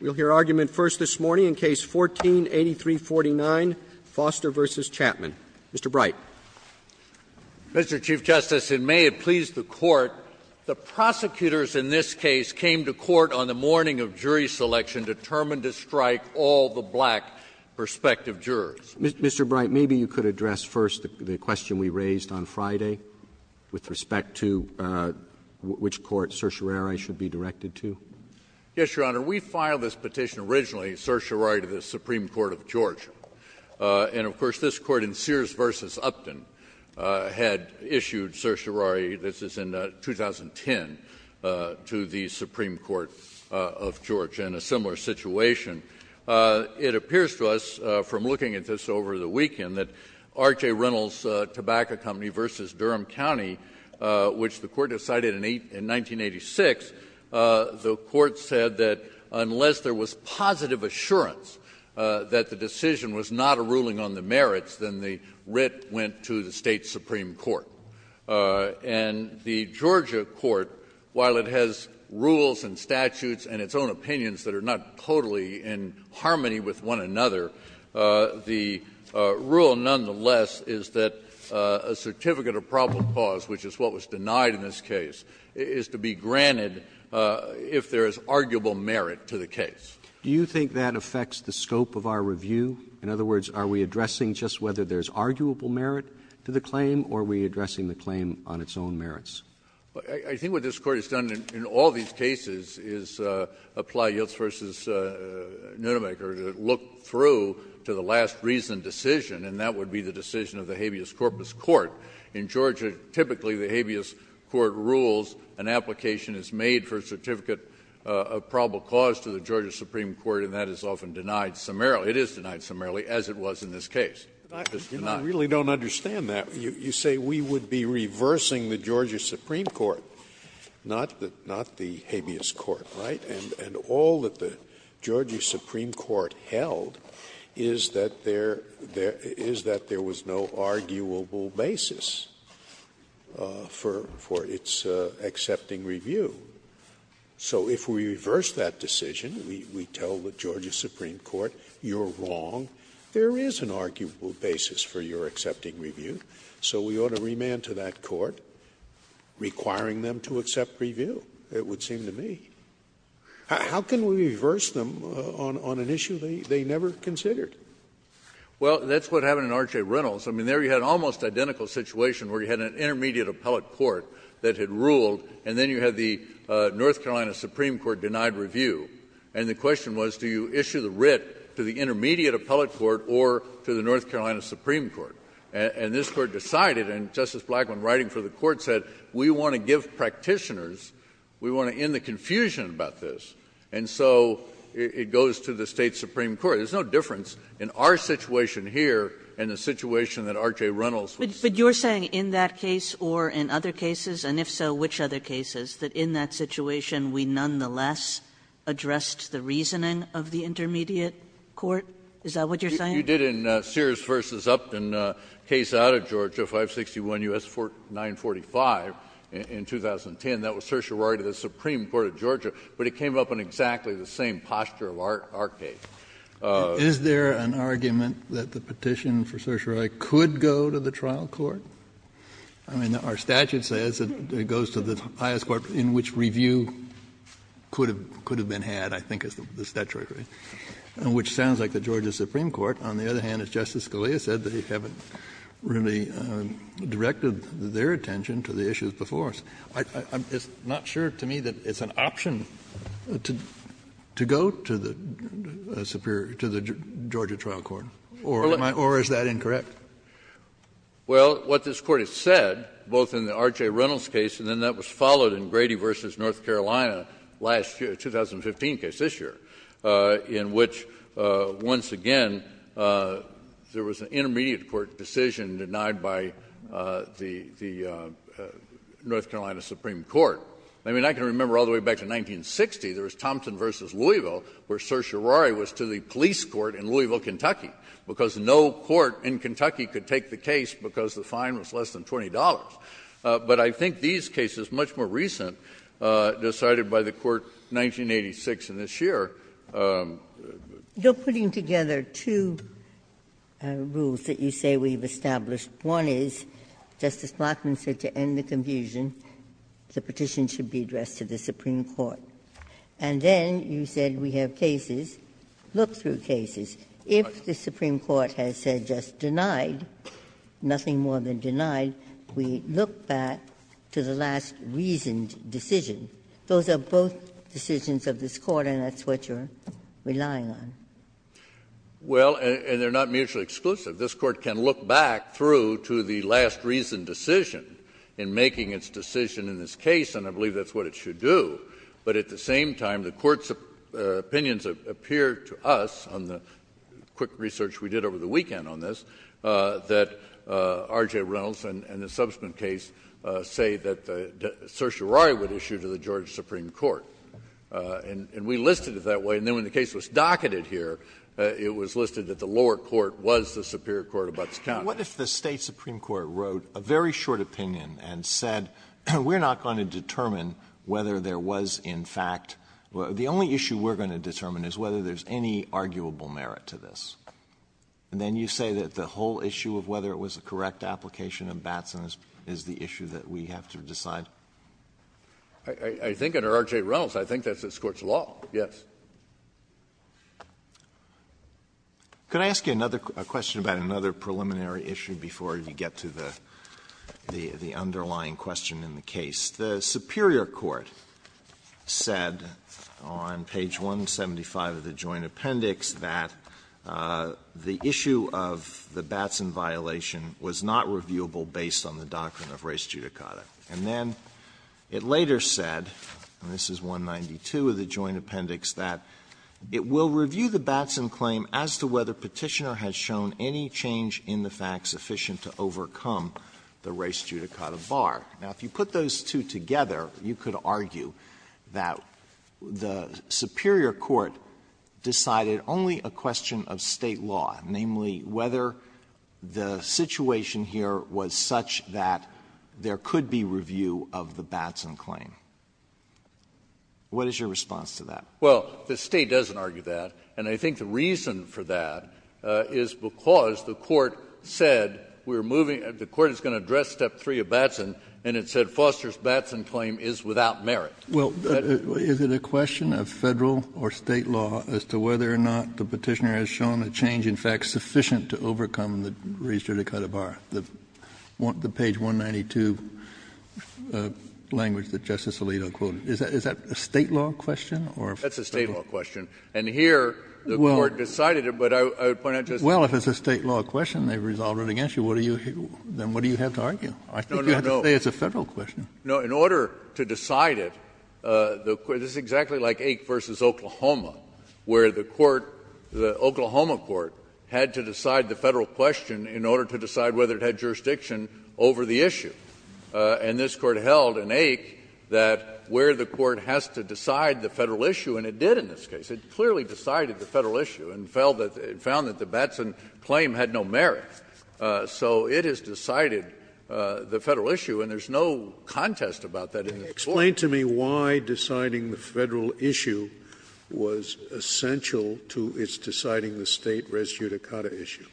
We'll hear argument first this morning in Case 14-8349, Foster v. Chatman. Mr. Bright. Mr. Chief Justice, and may it please the Court, the prosecutors in this case came to court on the morning of jury selection determined to strike all the black prospective jurors. Mr. Bright, maybe you could address first the question we raised on Friday with respect to which court certiorari should be directed to. Yes, Your Honor. We filed this petition originally, certiorari to the Supreme Court of Georgia. And, of course, this court in Sears v. Upton had issued certiorari, this is in 2010, to the Supreme Court of Georgia in a similar situation. It appears to us from looking at this over the weekend that R.J. Reynolds Tobacco Company v. Durham County, which the Court decided in 1986, the Court said that unless there was positive assurance that the decision was not a ruling on the merits, then the writ went to the State's Supreme Court. And the Georgia court, while it has rules and statutes and its own opinions that are not totally in harmony with one another, the rule, nonetheless, is that a certificate of probable cause, which is what was denied in this case, is to be granted if there is arguable merit to the case. Do you think that affects the scope of our review? In other words, are we addressing just whether there is arguable merit to the claim, or are we addressing the claim on its own merits? I think what this Court has done in all these cases is apply Yilts v. Nunemaker to look through to the last reasoned decision, and that would be the decision of the habeas corpus court. In Georgia, typically, the habeas court rules an application is made for a certificate of probable cause to the Georgia Supreme Court, and that is often denied summarily. It is denied summarily, as it was in this case. Scalia, you really don't understand that. You say we would be reversing the Georgia Supreme Court, not the habeas court, right? And all that the Georgia Supreme Court held is that there was no arguable basis for its accepting review. So if we reverse that decision, we tell the Georgia Supreme Court, you're wrong, there is an arguable basis for your accepting review, so we ought to remand to that court requiring them to accept review, it would seem to me. How can we reverse them on an issue they never considered? Well, that's what happened in R.J. Reynolds. I mean, there you had an almost identical situation where you had an intermediate appellate court that had ruled, and then you had the North Carolina Supreme Court denied review. And the question was, do you issue the writ to the intermediate appellate court or to the North Carolina Supreme Court? And this Court decided, and Justice Blackmun writing for the Court said, we want to give practitioners, we want to end the confusion about this. And so it goes to the State Supreme Court. There's no difference in our situation here and the situation that R.J. Reynolds was saying. Kagan. But you're saying in that case or in other cases, and if so, which other cases, that in that situation we nonetheless addressed the reasoning of the intermediate court? Is that what you're saying? You did in Sears v. Upton case out of Georgia, 561 U.S. 945 in 2010, that was certiorari to the Supreme Court of Georgia, but it came up in exactly the same posture of our case. Is there an argument that the petition for certiorari could go to the trial court? I mean, our statute says that it goes to the highest court in which review could have been had, I think is the statute, right? Which sounds like the Georgia Supreme Court. On the other hand, as Justice Scalia said, they haven't really directed their attention to the issues before us. I'm just not sure to me that it's an option to go to the Georgia trial court. Or is that incorrect? Well, what this Court has said, both in the R.J. Reynolds case and then that was followed in Grady v. North Carolina last year, 2015 case this year, in which once again there was an intermediate court decision denied by the North Carolina Supreme Court. I mean, I can remember all the way back to 1960, there was Thompson v. Louisville where certiorari was to the police court in Louisville, Kentucky. And it was denied because no court in Kentucky could take the case because the fine was less than $20. But I think these cases, much more recent, decided by the Court 1986 and this year. You're putting together two rules that you say we've established. One is, Justice Blackman said to end the confusion, the petition should be addressed to the Supreme Court. And then you said we have cases, look through cases. If the Supreme Court has said just denied, nothing more than denied, we look back to the last reasoned decision. Those are both decisions of this Court, and that's what you're relying on. Well, and they're not mutually exclusive. This Court can look back through to the last reasoned decision in making its decision in this case, and I believe that's what it should do. But at the same time, the Court's opinions appear to us on the quick research we did over the weekend on this, that R.J. Reynolds and the subsequent case say that the certiorari would issue to the George Supreme Court. And we listed it that way. And then when the case was docketed here, it was listed that the lower court was the superior court of Butts County. Alito, what if the State Supreme Court wrote a very short opinion and said we're not going to determine whether there was in fact the only issue we're going to determine is whether there's any arguable merit to this, and then you say that the whole issue of whether it was a correct application of Batson is the issue that we have to decide? I think under R.J. Reynolds, I think that's this Court's law, yes. Can I ask you another question about another preliminary issue before you get to the underlying question in the case? The superior court said on page 175 of the Joint Appendix that the issue of the Batson violation was not reviewable based on the doctrine of res judicata. And then it later said, and this is 192 of the Joint Appendix, that it will review the Batson claim as to whether Petitioner has shown any change in the facts sufficient to overcome the res judicata bar. Now, if you put those two together, you could argue that the superior court decided only a question of State law, namely whether the situation here was such that there could be review of the Batson claim. What is your response to that? Well, the State doesn't argue that. And I think the reason for that is because the Court said we're moving — the Court is going to address Step 3 of Batson, and it said Foster's Batson claim is without merit. Well, is it a question of Federal or State law as to whether or not the Petitioner has shown a change in facts sufficient to overcome the res judicata bar, the page 192 language that Justice Alito quoted? Is that a State law question or a Federal? That's a State law question. And here, the Court decided it, but I would point out Justice Kennedy. Well, if it's a State law question, they've resolved it against you. What do you — then what do you have to argue? No, no, no. I think you have to say it's a Federal question. No. In order to decide it, the — this is exactly like Ake v. Oklahoma, where the court — the Oklahoma court had to decide the Federal question in order to decide whether it had jurisdiction over the issue. And this Court held in Ake that where the court has to decide the Federal issue and it did in this case. It clearly decided the Federal issue and found that the Batson claim had no merit. So it has decided the Federal issue, and there's no contest about that in this case. Scalia. Explain to me why deciding the Federal issue was essential to its deciding the State res judicata issue.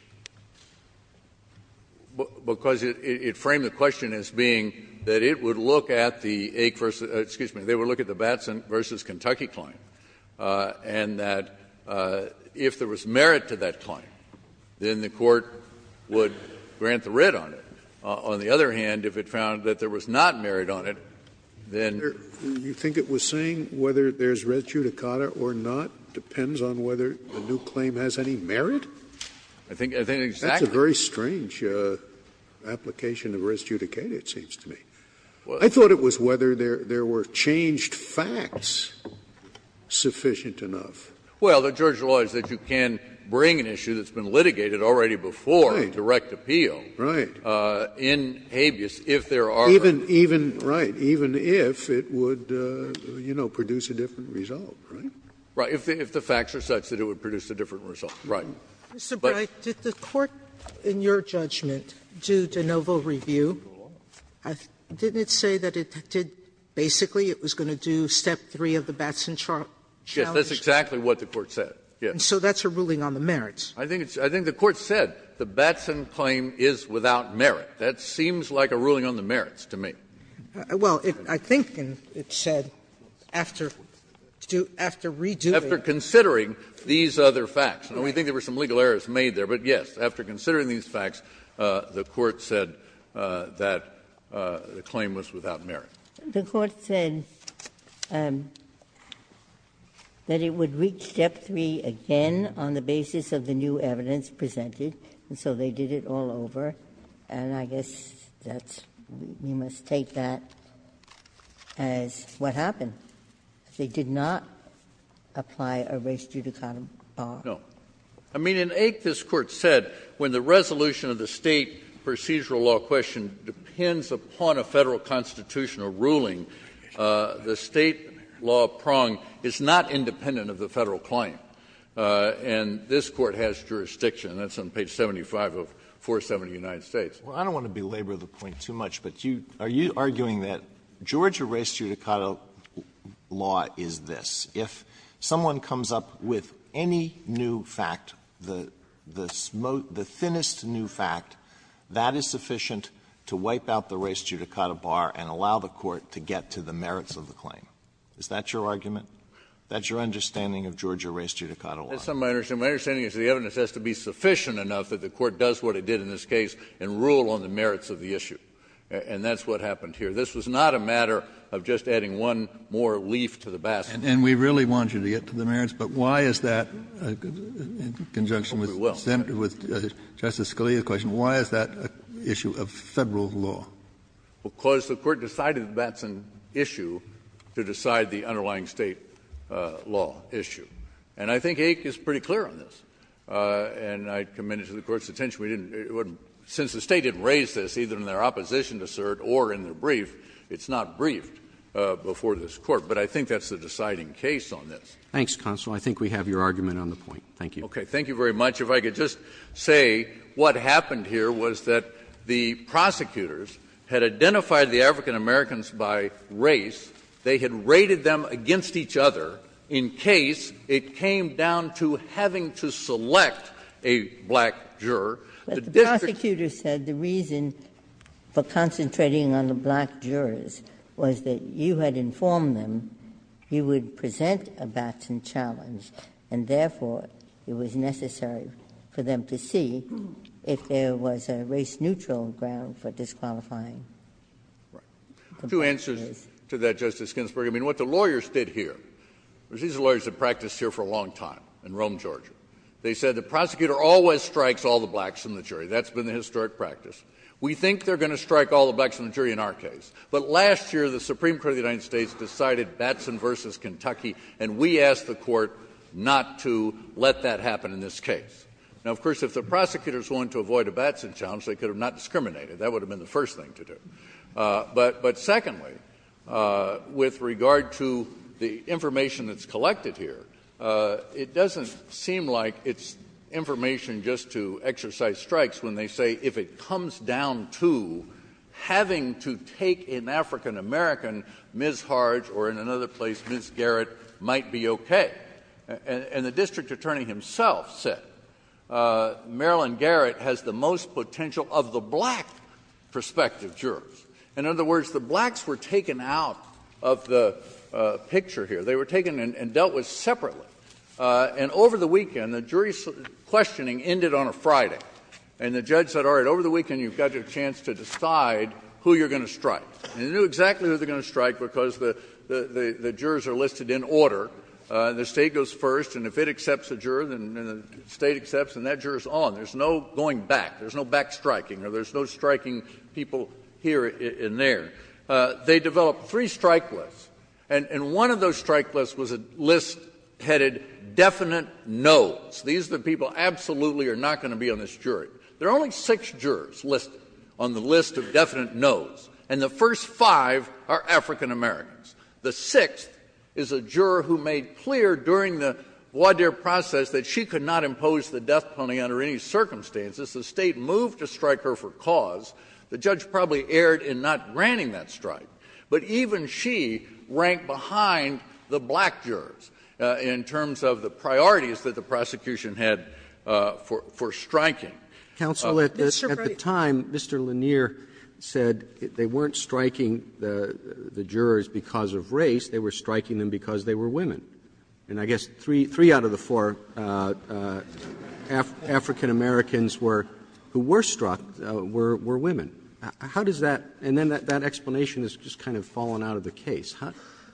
Because it framed the question as being that it would look at the Ake versus — excuse me — the Batson claim, and that if there was merit to that claim, then the court would grant the writ on it. On the other hand, if it found that there was not merit on it, then — Scalia. You think it was saying whether there's res judicata or not depends on whether the new claim has any merit? I think exactly. That's a very strange application of res judicata, it seems to me. I thought it was whether there were changed facts. I thought it was sufficient enough. Well, the judge realized that you can bring an issue that's been litigated already before. Right. Direct appeal. Right. In habeas if there are. Even — even — right. Even if it would, you know, produce a different result, right? Right. If the facts are such that it would produce a different result. Right. Mr. Breyer, did the Court, in your judgment, do de novo review? Didn't it say that it did — basically, it was going to do step three of the Batson charge? Yes, that's exactly what the Court said, yes. And so that's a ruling on the merits. I think it's — I think the Court said the Batson claim is without merit. That seems like a ruling on the merits to me. Well, I think it said after — after redoing. After considering these other facts. And we think there were some legal errors made there. But, yes, after considering these facts, the Court said that the claim was without merit. The Court said that it would reach step three again on the basis of the new evidence presented. And so they did it all over. And I guess that's — we must take that as what happened. They did not apply a res judicata bar. No. I mean, in Ake, this Court said when the resolution of the State procedural law question depends upon a Federal constitutional ruling, the State law prong is not independent of the Federal claim. And this Court has jurisdiction. And that's on page 75 of 470 of the United States. Well, I don't want to belabor the point too much, but you — are you arguing that Georgia res judicata law is this? If someone comes up with any new fact, the — the thinnest new fact, that is sufficient to wipe out the res judicata bar and allow the Court to get to the merits of the claim? Is that your argument? That's your understanding of Georgia res judicata law? That's not my understanding. My understanding is the evidence has to be sufficient enough that the Court does what it did in this case and rule on the merits of the issue. And that's what happened here. This was not a matter of just adding one more leaf to the basket. And we really want you to get to the merits. But why is that in conjunction with Justice Scalia's question? Why is that an issue of Federal law? Because the Court decided that's an issue to decide the underlying State law issue. And I think Aik is pretty clear on this. And I commend it to the Court's attention. We didn't — since the State didn't raise this, either in their opposition to cert or in their brief, it's not briefed before this Court. But I think that's the deciding case on this. Roberts. Thanks, counsel. I think we have your argument on the point. Thank you. Okay. Thank you very much. If I could just say what happened here was that the prosecutors had identified the African-Americans by race. They had rated them against each other in case it came down to having to select a black juror. But the prosecutors said the reason for concentrating on the black jurors was that if you had informed them, you would present a Batson challenge, and therefore it was necessary for them to see if there was a race-neutral ground for disqualifying the black jurors. Right. Two answers to that, Justice Ginsburg. I mean, what the lawyers did here, these are lawyers that practiced here for a long time in Rome, Georgia. They said the prosecutor always strikes all the blacks in the jury. That's been the historic practice. We think they're going to strike all the blacks in the jury in our case. But last year, the Supreme Court of the United States decided Batson v. Kentucky, and we asked the court not to let that happen in this case. Now, of course, if the prosecutors wanted to avoid a Batson challenge, they could have not discriminated. That would have been the first thing to do. But secondly, with regard to the information that's collected here, it doesn't seem like it's information just to exercise strikes when they say if it comes down to having to take an African-American, Ms. Harge or, in another place, Ms. Garrett, might be okay. And the district attorney himself said Marilyn Garrett has the most potential of the black prospective jurors. In other words, the blacks were taken out of the picture here. They were taken and dealt with separately. And over the weekend, the jury questioning ended on a Friday, and the judge said, All right, over the weekend, you've got your chance to decide who you're going to strike. And they knew exactly who they were going to strike because the jurors are listed in order. The state goes first, and if it accepts a juror, then the state accepts, and that juror's on. There's no going back. There's no backstriking, or there's no striking people here and there. They developed three strike lists, and one of those strike lists was a list headed definite no. These are the people absolutely are not going to be on this jury. There are only six jurors listed on the list of definite no's, and the first five are African Americans. The sixth is a juror who made clear during the voir dire process that she could not impose the death penalty under any circumstances. The state moved to strike her for cause. The judge probably erred in not granting that strike. But even she ranked behind the black jurors in terms of the priorities that the were women. And I guess three out of the four African Americans were, who were struck, were women. How does that? And then that explanation has just kind of fallen out of the case.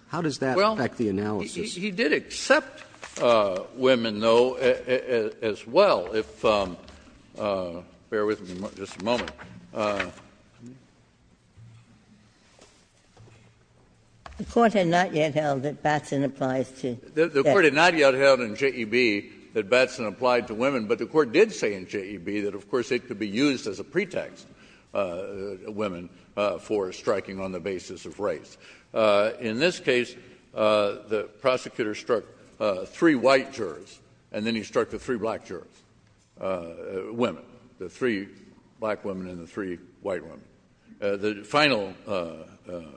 How does that affect the analysis? Well, he did accept women, though, as well. If you'll bear with me just a moment. The Court had not yet held that Batson applies to death. The Court had not yet held in J.E.B. that Batson applied to women, but the Court did say in J.E.B. that, of course, it could be used as a pretext, women, for striking on the basis of race. In this case, the prosecutor struck three white jurors, and then he struck the three black jurors, women, the three black women and the three white women. The final question.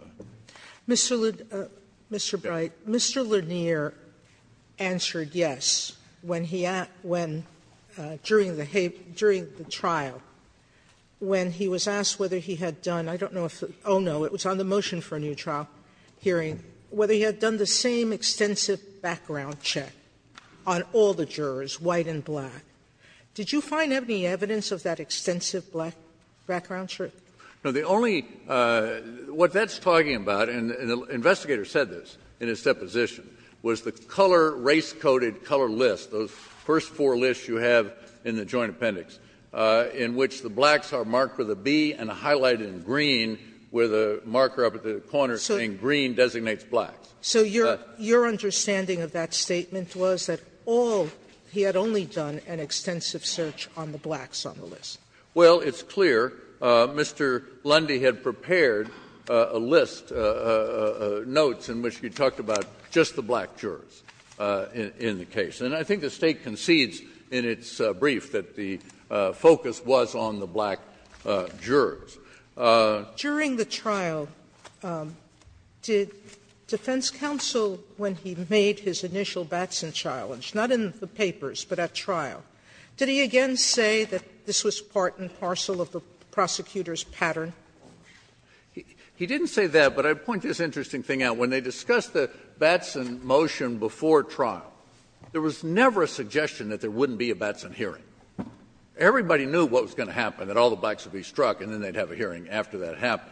Sotomayor, Mr. Bright, Mr. Lanier answered yes when he asked when, during the trial, when he was asked whether he had done, I don't know if, oh, no, it was on the motion for a new trial hearing, whether he had done the same extensive background check on all the jurors, white and black. Did you find any evidence of that extensive black background check? No. The only — what that's talking about, and the investigator said this in his deposition, was the color, race-coded color list, those first four lists you have in the Joint Appendix, in which the blacks are marked with a B and highlighted in green with a marker up at the corner saying green designates blacks. So your understanding of that statement was that all — he had only done an extensive search on the blacks on the list. Well, it's clear. Mr. Lundy had prepared a list, notes, in which he talked about just the black jurors in the case. And I think the State concedes in its brief that the focus was on the black jurors. During the trial, did defense counsel, when he made his initial Batson challenge — not in the papers, but at trial — did he again say that this was part and parcel of the prosecutor's pattern? He didn't say that, but I'd point this interesting thing out. When they discussed the Batson motion before trial, there was never a suggestion that there wouldn't be a Batson hearing. Everybody knew what was going to happen, that all the blacks would be struck and then they'd have a hearing after that happened.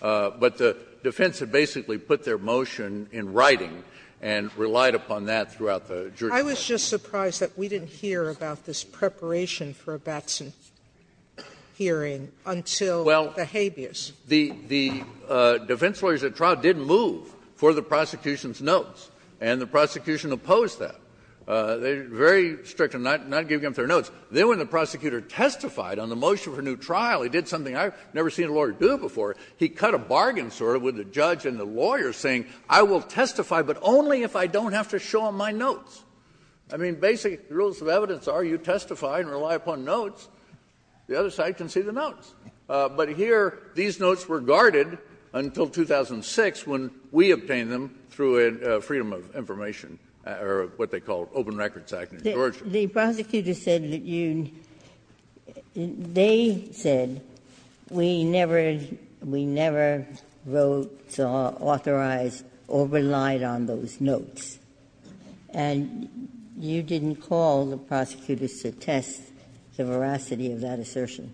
But the defense had basically put their motion in writing and relied upon that throughout the jury trial. I was just surprised that we didn't hear about this preparation for a Batson hearing until the habeas. Well, the defense lawyers at trial did move for the prosecution's notes, and the prosecution opposed that. They were very strict on not giving up their notes. Then when the prosecutor testified on the motion for a new trial, he did something I've never seen a lawyer do before. He cut a bargain, sort of, with the judge and the lawyer, saying, I will testify, but only if I don't have to show them my notes. I mean, basically, the rules of evidence are you testify and rely upon notes. The other side can see the notes. But here, these notes were guarded until 2006, when we obtained them through a freedom of information, or what they call Open Records Act in Georgia. The prosecutors said that you — they said, we never wrote, saw, authorized, or relied on those notes. And you didn't call the prosecutors to test the veracity of that assertion.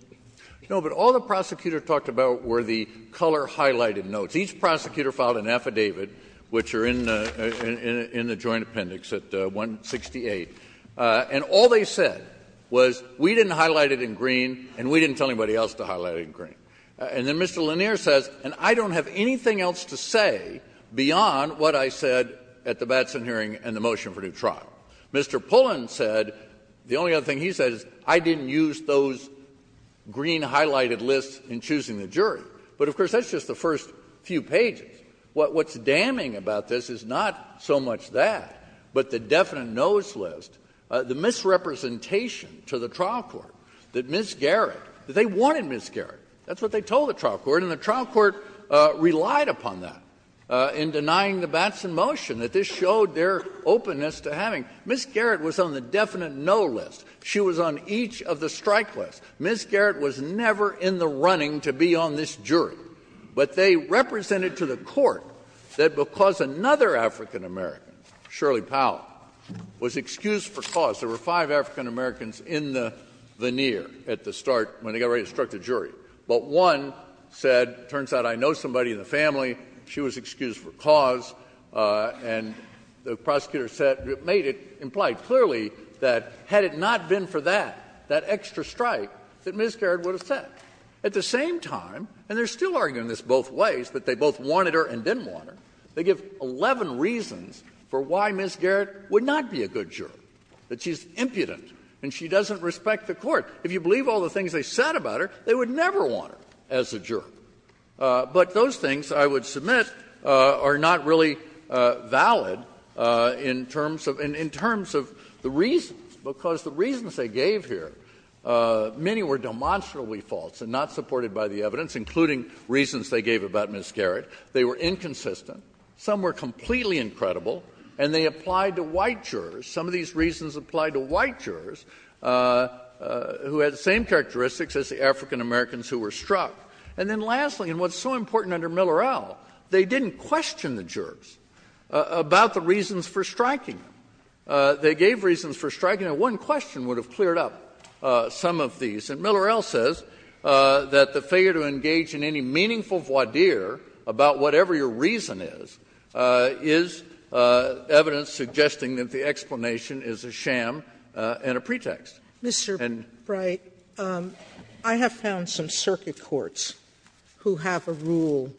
No, but all the prosecutor talked about were the color-highlighted notes. Each prosecutor filed an affidavit, which are in the — in the joint appendix at 168. And all they said was, we didn't highlight it in green, and we didn't tell anybody else to highlight it in green. And then Mr. Lanier says, and I don't have anything else to say beyond what I said at the Batson hearing and the motion for a new trial. Mr. Pullen said — the only other thing he said is, I didn't use those green highlighted lists in choosing the jury. But, of course, that's just the first few pages. What's damning about this is not so much that, but the definite no's list, the misrepresentation to the trial court that Ms. Garrett — that they wanted Ms. Garrett. That's what they told the trial court, and the trial court relied upon that in denying the Batson motion, that this showed their openness to having — Ms. Garrett was on the definite no list. She was on each of the strike lists. Ms. Garrett was never in the running to be on this jury. But they represented to the court that because another African-American, Shirley Powell, was excused for cause — there were five African-Americans in the veneer at the start when they got ready to strike the jury. But one said, it turns out I know somebody in the family. She was excused for cause. And the prosecutor said — made it — implied clearly that had it not been for that, that Ms. Garrett would have said. At the same time — and they're still arguing this both ways, that they both wanted her and didn't want her — they give 11 reasons for why Ms. Garrett would not be a good juror, that she's impudent and she doesn't respect the court. If you believe all the things they said about her, they would never want her as a juror. But those things, I would submit, are not really valid in terms of — in terms of the reasons, because the reasons they gave here, many were demonstrably false and not supported by the evidence, including reasons they gave about Ms. Garrett. They were inconsistent. Some were completely incredible. And they applied to white jurors. Some of these reasons applied to white jurors who had the same characteristics as the African-Americans who were struck. And then lastly, and what's so important under Miller-El, they didn't question the jurors about the reasons for striking them. They gave reasons for striking them. One question would have cleared up some of these. And Miller-El says that the failure to engage in any meaningful voir dire about whatever your reason is, is evidence suggesting that the explanation is a sham and a pretext. And — SOTOMAYOR. Mr. Bright, I have found some circuit courts who have a rule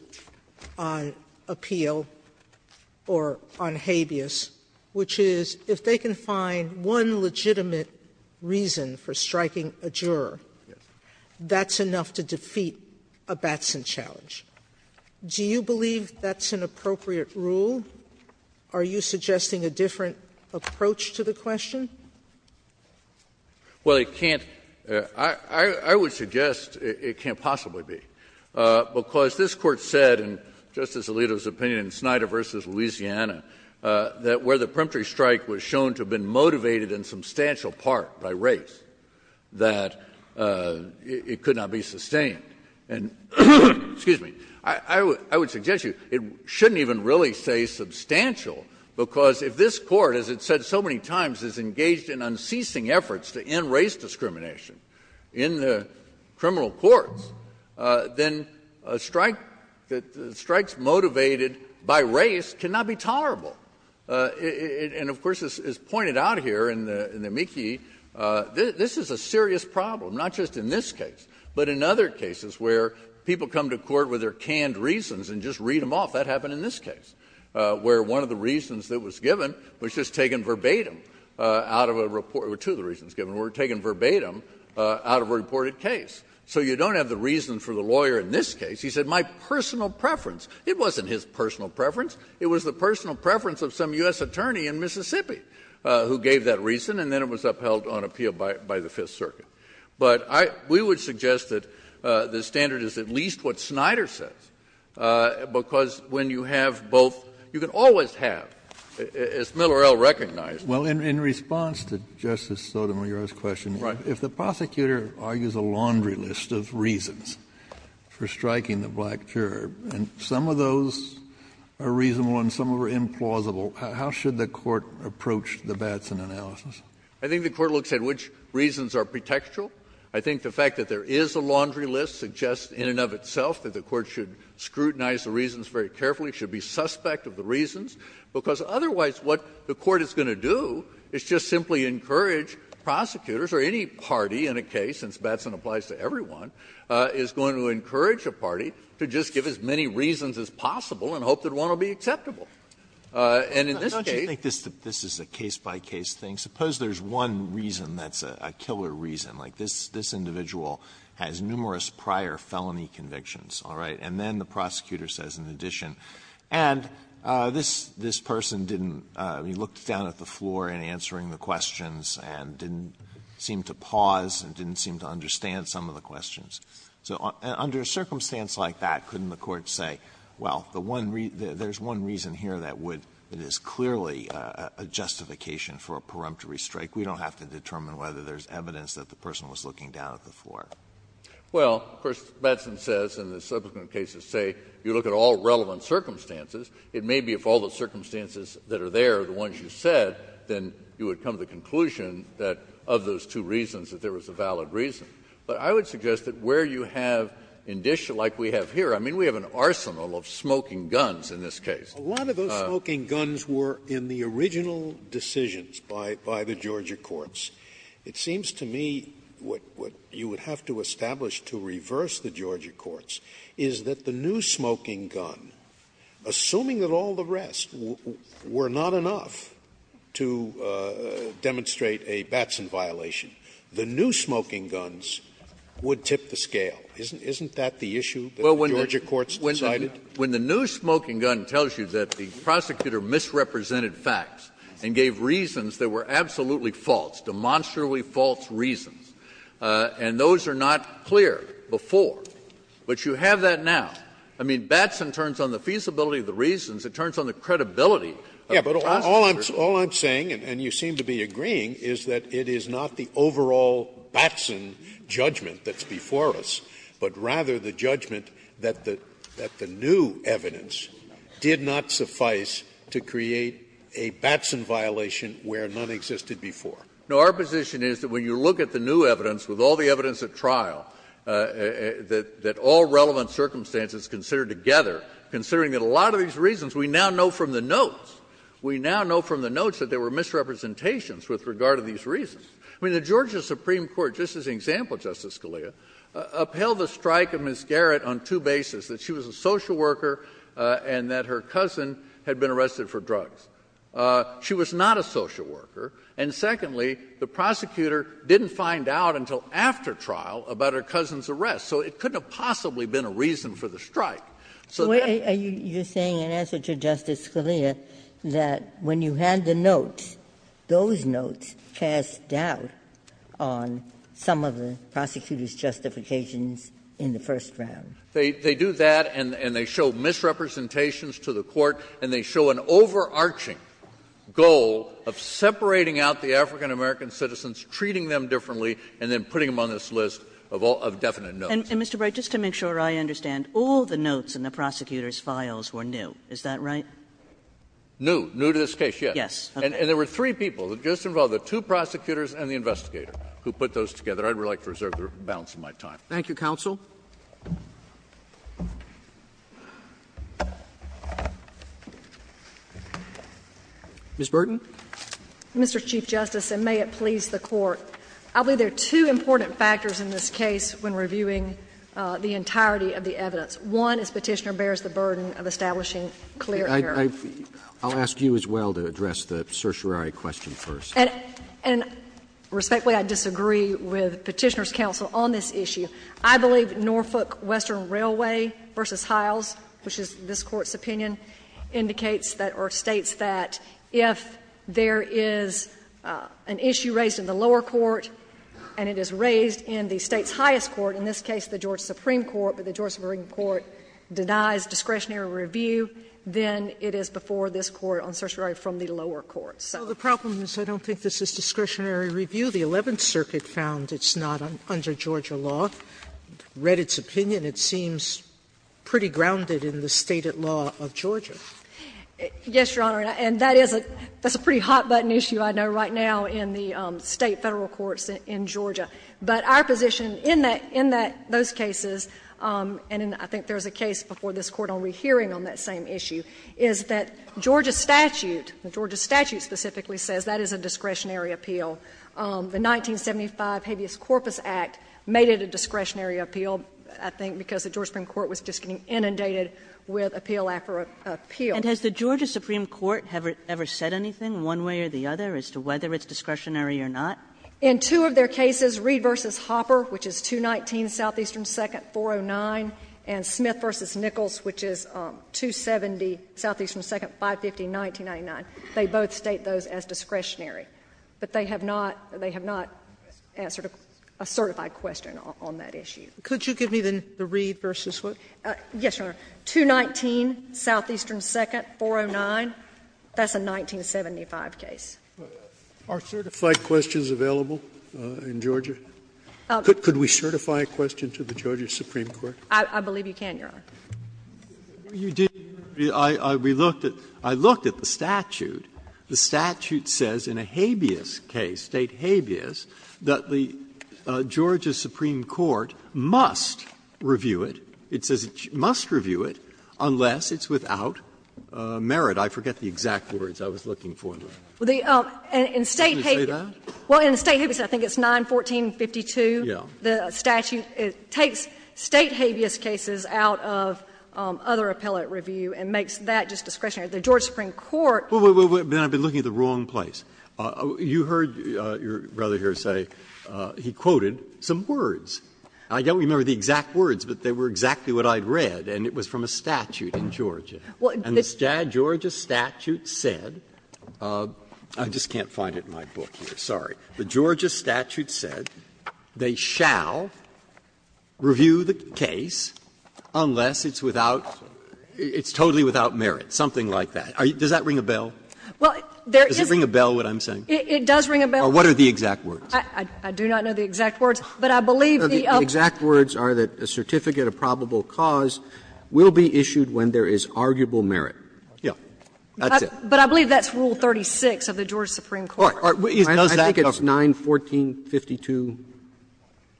on appeal or on habeas, which is, if they can find one legitimate reason for striking a juror, that's enough to defeat a Batson challenge. Do you believe that's an appropriate rule? Are you suggesting a different approach to the question? BRYANT CUMMINGS. Well, it can't — I would suggest it can't possibly be, because this Court said, in Justice Alito's opinion in Snyder v. Louisiana, that where the peremptory strike was shown to have been motivated in substantial part by race, that it could not be sustained. And — excuse me — I would suggest to you, it shouldn't even really say substantial, because if this Court, as it's said so many times, is engaged in unceasing efforts to end race discrimination in the criminal courts, then a strike — strikes motivated by race cannot be tolerable. And of course, as pointed out here in the mickey, this is a serious problem, not just in this case, but in other cases where people come to court with their canned reasons and just read them off. That happened in this case, where one of the reasons that was given was just taken verbatim out of a — two of the reasons given were taken verbatim out of a reported case. So you don't have the reason for the lawyer in this case. He said, my personal preference. It wasn't his personal preference. It was the personal preference of some U.S. attorney in Mississippi who gave that reason, and then it was upheld on appeal by the Fifth Circuit. But I — we would suggest that the standard is at least what Snyder says, because when you have both — you can always have, as Miller L. recognized. Kennedy. Well, in response to Justice Sotomayor's question, if the prosecutor argues a laundry list of reasons for striking the black curb, and some of those are reasonable and some of them are implausible, how should the Court approach the Batson analysis? I think the Court looks at which reasons are pretextual. I think the fact that there is a laundry list suggests in and of itself that the Court should scrutinize the reasons very carefully, should be suspect of the reasons, because otherwise what the Court is going to do is just simply encourage prosecutors or any party in a case, since Batson applies to everyone, is going to encourage a party to just give as many reasons as possible and hope that one will be acceptable. And in this case — Alito Don't you think this is a case-by-case thing? Suppose there's one reason that's a killer reason. Like, this individual has numerous prior felony convictions, all right? And then the prosecutor says, in addition, and this person didn't — he looked down at the floor in answering the questions and didn't seem to pause and didn't seem to understand some of the questions. So under a circumstance like that, couldn't the Court say, well, the one — there's one reason here that would — that is clearly a justification for a preemptory strike. We don't have to determine whether there's evidence that the person was looking down at the floor. Well, of course, Batson says, and the subsequent cases say, you look at all relevant circumstances. It may be if all the circumstances that are there are the ones you said, then you would come to the conclusion that, of those two reasons, that there was a valid reason. But I would suggest that where you have — like we have here, I mean, we have an arsenal of smoking guns in this case. A lot of those smoking guns were in the original decisions by the Georgia courts. It seems to me what you would have to establish to reverse the Georgia courts is that the new smoking gun, assuming that all the rest were not enough to demonstrate a Batson violation, the new smoking guns would tip the scale. Isn't that the issue that the Georgia courts decided? When the new smoking gun tells you that the prosecutor misrepresented facts and gave reasons that were absolutely false, demonstrably false reasons, and those are not clear before, but you have that now. I mean, Batson turns on the feasibility of the reasons. It turns on the credibility of the prosecutors. Scalia. But all I'm saying, and you seem to be agreeing, is that it is not the overall Batson judgment that's before us, but rather the judgment that the new evidence did not suffice to create a Batson violation where none existed before. No. Our position is that when you look at the new evidence, with all the evidence at trial, that all relevant circumstances considered together, considering that a lot of these reasons, we now know from the notes, we now know from the notes that there were misrepresentations with regard to these reasons. I mean, the Georgia Supreme Court, just as an example, Justice Scalia, upheld the strike of Ms. Garrett on two bases, that she was a social worker and that her cousin had been arrested for drugs. She was not a social worker, and secondly, the prosecutor didn't find out until after trial about her cousin's arrest, so it couldn't have possibly been a reason for the strike. So that — So you're saying, in answer to Justice Scalia, that when you had the notes, those were the prosecutor's justifications in the first round? They do that, and they show misrepresentations to the Court, and they show an overarching goal of separating out the African-American citizens, treating them differently, and then putting them on this list of all — of definite notes. And, Mr. Bright, just to make sure I understand, all the notes in the prosecutor's files were new, is that right? New. New to this case, yes. Yes. And there were three people that just involved the two prosecutors and the investigator who put those together. I would like to reserve the balance of my time. Thank you, counsel. Ms. Burton. Mr. Chief Justice, and may it please the Court, I believe there are two important factors in this case when reviewing the entirety of the evidence. One is Petitioner bears the burden of establishing clear error. I'll ask you as well to address the certiorari question first. And respectfully, I disagree with Petitioner's counsel on this issue. I believe Norfolk Western Railway v. Hiles, which is this Court's opinion, indicates that — or states that if there is an issue raised in the lower court and it is raised in the State's highest court, in this case the Georgia Supreme Court, but the Georgia Supreme Court denies discretionary review, then it is before this Court on certiorari from the lower court. So the problem is I don't think this is discretionary review. The Eleventh Circuit found it's not under Georgia law, read its opinion. It seems pretty grounded in the stated law of Georgia. Yes, Your Honor. And that is a pretty hot-button issue I know right now in the State federal courts in Georgia. But our position in that — in those cases, and I think there is a case before this hearing on that same issue, is that Georgia statute, the Georgia statute specifically says that is a discretionary appeal. The 1975 Habeas Corpus Act made it a discretionary appeal, I think, because the Georgia Supreme Court was just getting inundated with appeal after appeal. And has the Georgia Supreme Court ever said anything, one way or the other, as to whether it's discretionary or not? In two of their cases, Reed v. Hopper, which is 219 Southeastern 2nd, 409, and Smith v. Nichols, which is 270 Southeastern 2nd, 550, 1999, they both state those as discretionary. But they have not — they have not answered a certified question on that issue. Could you give me the Reed v. Hopper? Yes, Your Honor. 219 Southeastern 2nd, 409, that's a 1975 case. Are certified questions available in Georgia? Could we certify a question to the Georgia Supreme Court? I believe you can, Your Honor. Breyer, I looked at the statute. The statute says in a habeas case, State habeas, that the Georgia Supreme Court must review it. It says it must review it unless it's without merit. I forget the exact words I was looking for. Well, in State habeas, I think it's 914.52, the statute, it takes State habeas cases out of other appellate review and makes that just discretionary. The Georgia Supreme Court can't do that. But then I've been looking at the wrong place. You heard your brother here say he quoted some words. I don't remember the exact words, but they were exactly what I'd read, and it was from a statute in Georgia. And the Georgia statute said — I just can't find it in my book here, sorry. The Georgia statute said they shall review the case unless it's without — it's totally without merit, something like that. Does that ring a bell? Does it ring a bell, what I'm saying? It does ring a bell. Or what are the exact words? I do not know the exact words, but I believe the other ones. The exact words are that a certificate of probable cause will be issued when there is arguable merit. Yes. That's it. But I believe that's Rule 36 of the Georgia Supreme Court. I think it's 914.52,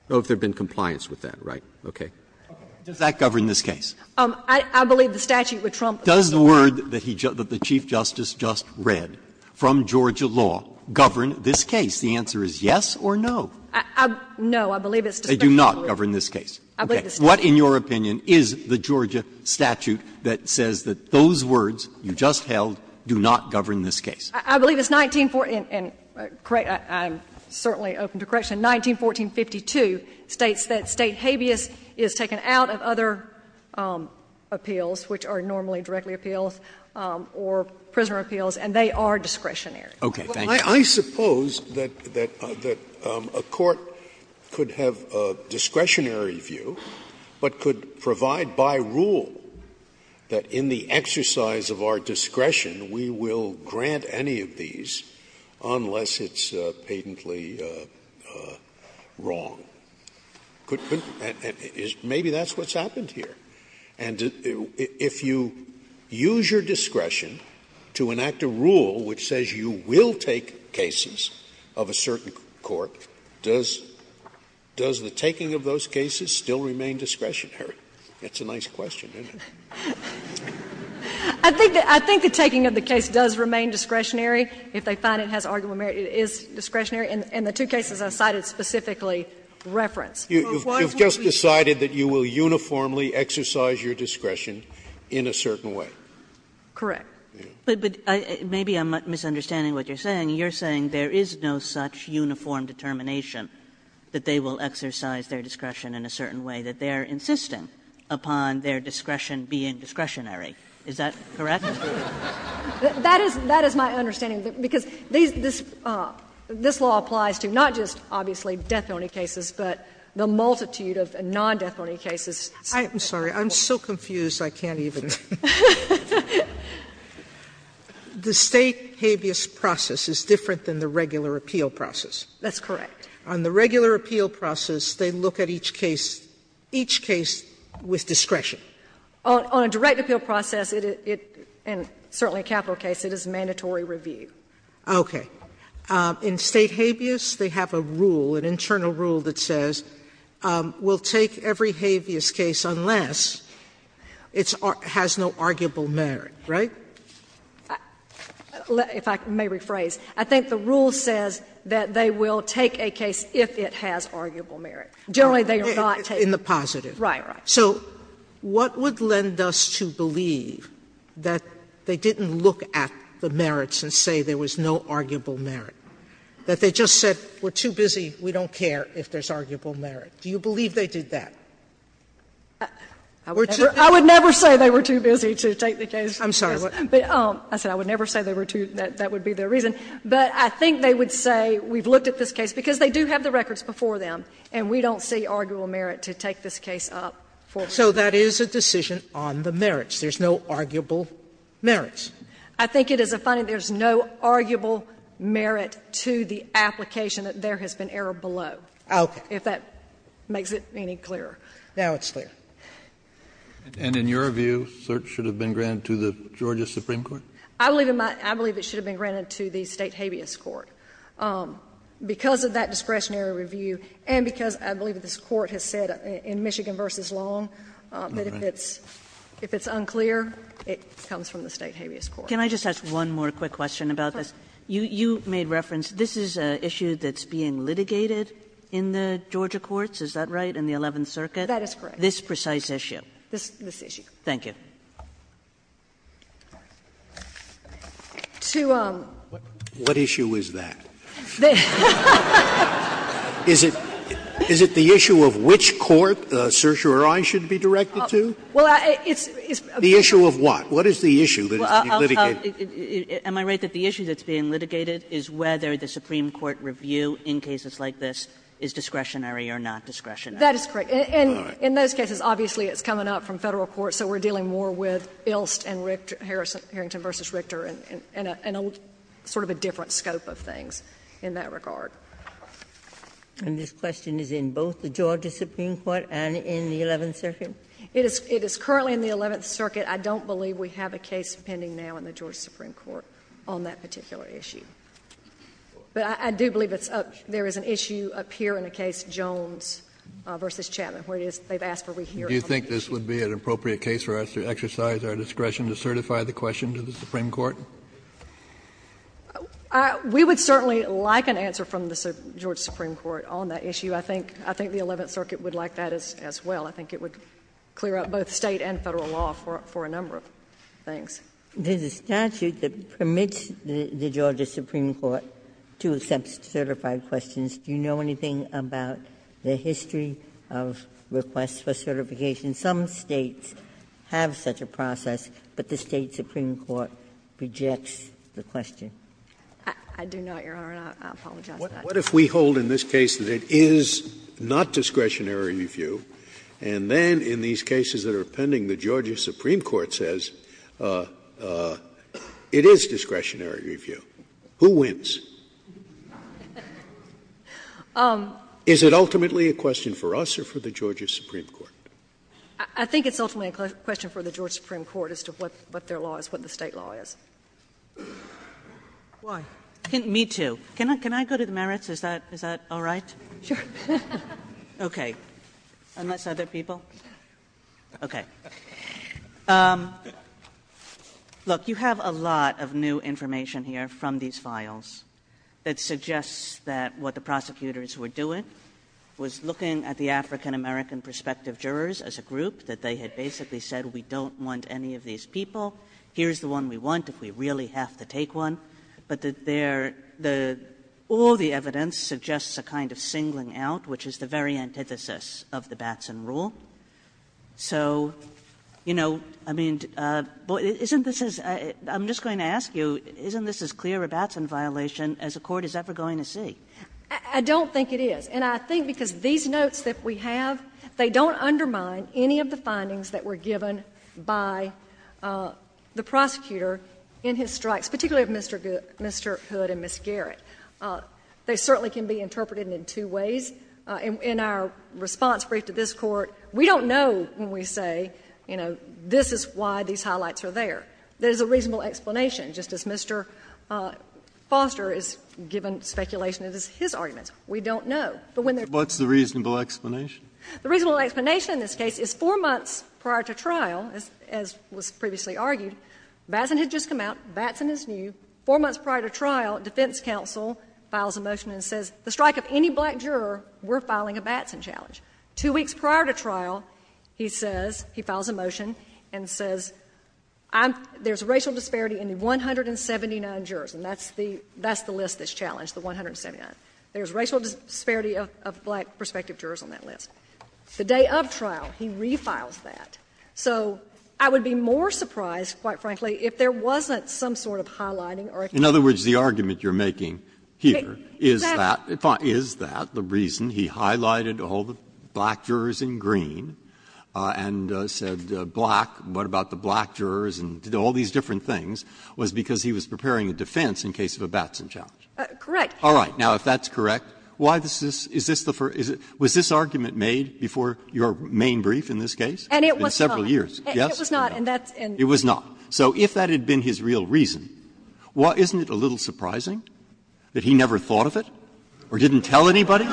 if there had been compliance with that, right? Okay. Breyer. Does that govern this case? I believe the statute would trump the Georgia law. Does the word that the Chief Justice just read from Georgia law govern this case? The answer is yes or no. No, I believe it's discretionary. They do not govern this case. I believe it's discretionary. What, in your opinion, is the Georgia statute that says that those words you just held do not govern this case? I believe it's 1914 and correct me, I'm certainly open to correction. 1914.52 states that State habeas is taken out of other appeals, which are normally directly appeals, or prisoner appeals, and they are discretionary. Okay. Thank you. Scalia. I suppose that a court could have a discretionary view, but could provide by rule that in the exercise of our discretion we will grant any of these unless it's patently wrong. Could you – maybe that's what's happened here. And if you use your discretion to enact a rule which says you will take cases of a certain court, does the taking of those cases still remain discretionary? That's a nice question, isn't it? I think the taking of the case does remain discretionary if they find it has argument merit. It is discretionary. And the two cases I cited specifically reference. You've just decided that you will uniformly exercise your discretion in a certain way. Correct. But maybe I'm misunderstanding what you're saying. You're saying there is no such uniform determination that they will exercise their discretion in a certain way, that they are insisting upon their discretion being discretionary. Is that correct? That is my understanding, because this law applies to not just, obviously, death penalty cases, but the multitude of non-death penalty cases. I'm sorry. I'm so confused I can't even. The State habeas process is different than the regular appeal process. That's correct. On the regular appeal process, they look at each case, each case with discretion. On a direct appeal process, it is, and certainly a capital case, it is mandatory review. Okay. In State habeas, they have a rule, an internal rule that says, we'll take every habeas case unless it has no arguable merit, right? If I may rephrase. I think the rule says that they will take a case if it has arguable merit. Generally, they do not take a case. Sotomayor In the positive. Right, right. Sotomayor So what would lend us to believe that they didn't look at the merits and say there was no arguable merit, that they just said, we're too busy, we don't care if there's arguable merit? Do you believe they did that? I would never say they were too busy to take the case. I'm sorry. I said, I would never say they were too, that would be their reason, but I think they would say, we've looked at this case, because they do have the records before them, and we don't see arguable merit to take this case up for review. So that is a decision on the merits. There's no arguable merits. I think it is a finding there's no arguable merit to the application that there has been error below. Okay. If that makes it any clearer. Now it's clear. And in your view, cert should have been granted to the Georgia Supreme Court? I believe it should have been granted to the State habeas court. Because of that discretionary review and because I believe this court has said in Michigan v. Long that if it's unclear, it comes from the State habeas court. Can I just ask one more quick question about this? You made reference, this is an issue that's being litigated in the Georgia courts, is that right, in the Eleventh Circuit? That is correct. This precise issue? This issue. Thank you. To um. What issue is that? Is it the issue of which court certiorari should be directed to? Well, it's. The issue of what? What is the issue that is being litigated? Am I right that the issue that's being litigated is whether the Supreme Court review in cases like this is discretionary or not discretionary? That is correct. And in those cases, obviously, it's coming up from Federal court, so we're dealing more with Ilst and Harrington v. Richter and sort of a different scope of things in that regard. And this question is in both the Georgia Supreme Court and in the Eleventh Circuit? It is currently in the Eleventh Circuit. I don't believe we have a case pending now in the Georgia Supreme Court on that particular issue. But I do believe there is an issue up here in a case, Jones v. Chapman, where it is they've asked for rehearing. Do you think this would be an appropriate case for us to exercise our discretion to certify the question to the Supreme Court? We would certainly like an answer from the Georgia Supreme Court on that issue. I think the Eleventh Circuit would like that as well. I think it would clear up both State and Federal law for a number of things. Ginsburg-Miller There's a statute that permits the Georgia Supreme Court to accept certified questions. Do you know anything about the history of requests for certification? Some States have such a process, but the State Supreme Court rejects the question. I do not, Your Honor, and I apologize for that. Scalia What if we hold in this case that it is not discretionary review, and then in these cases that are pending, the Georgia Supreme Court says it is discretionary review? Who wins? Is it ultimately a question for us or for the Georgia Supreme Court? I think it's ultimately a question for the Georgia Supreme Court as to what their law is, what the State law is. Kagan Me too. Can I go to the merits? Is that all right? Okay. Unless other people? Okay. Look, you have a lot of new information here from these files that suggests that what the prosecutors were doing was looking at the African-American prospective jurors as a group, that they had basically said, we don't want any of these people, here's the one we want if we really have to take one, but all the evidence suggests a kind of singling out, which is the very antithesis of the Batson rule. So, you know, I mean, isn't this as — I'm just going to ask you, isn't this as clear a Batson violation as a court is ever going to see? I don't think it is. And I think because these notes that we have, they don't undermine any of the findings that were given by the prosecutor in his strikes, particularly of Mr. Hood and Ms. Garrett. They certainly can be interpreted in two ways. In our response brief to this Court, we don't know when we say, you know, this is why these highlights are there. There's a reasonable explanation, just as Mr. Foster has given speculation that it's his arguments. We don't know. But when they're— Breyer, what's the reasonable explanation? The reasonable explanation in this case is 4 months prior to trial, as was previously argued, Batson had just come out, Batson is new, 4 months prior to trial, defense counsel files a motion and says, the strike of any black juror, we're filing a Batson challenge. Two weeks prior to trial, he says, he files a motion and says, I'm — there's racial disparity in 179 jurors, and that's the list that's challenged, the 179. There's racial disparity of black prospective jurors on that list. The day of trial, he refiles that. So I would be more surprised, quite frankly, if there wasn't some sort of highlighting or explanation. Breyer, the argument you're making here is that, is that the reason he highlighted all the black jurors in green and said black, what about the black jurors, and did all these different things, was because he was preparing a defense in case of a Batson challenge. Correct. All right. Now, if that's correct, why is this — is this the first — was this argument made before your main brief in this case? And it was not. In several years, yes or no? It was not, and that's in the case. It was not. So if that had been his real reason, well, isn't it a little surprising that he never thought of it or didn't tell anybody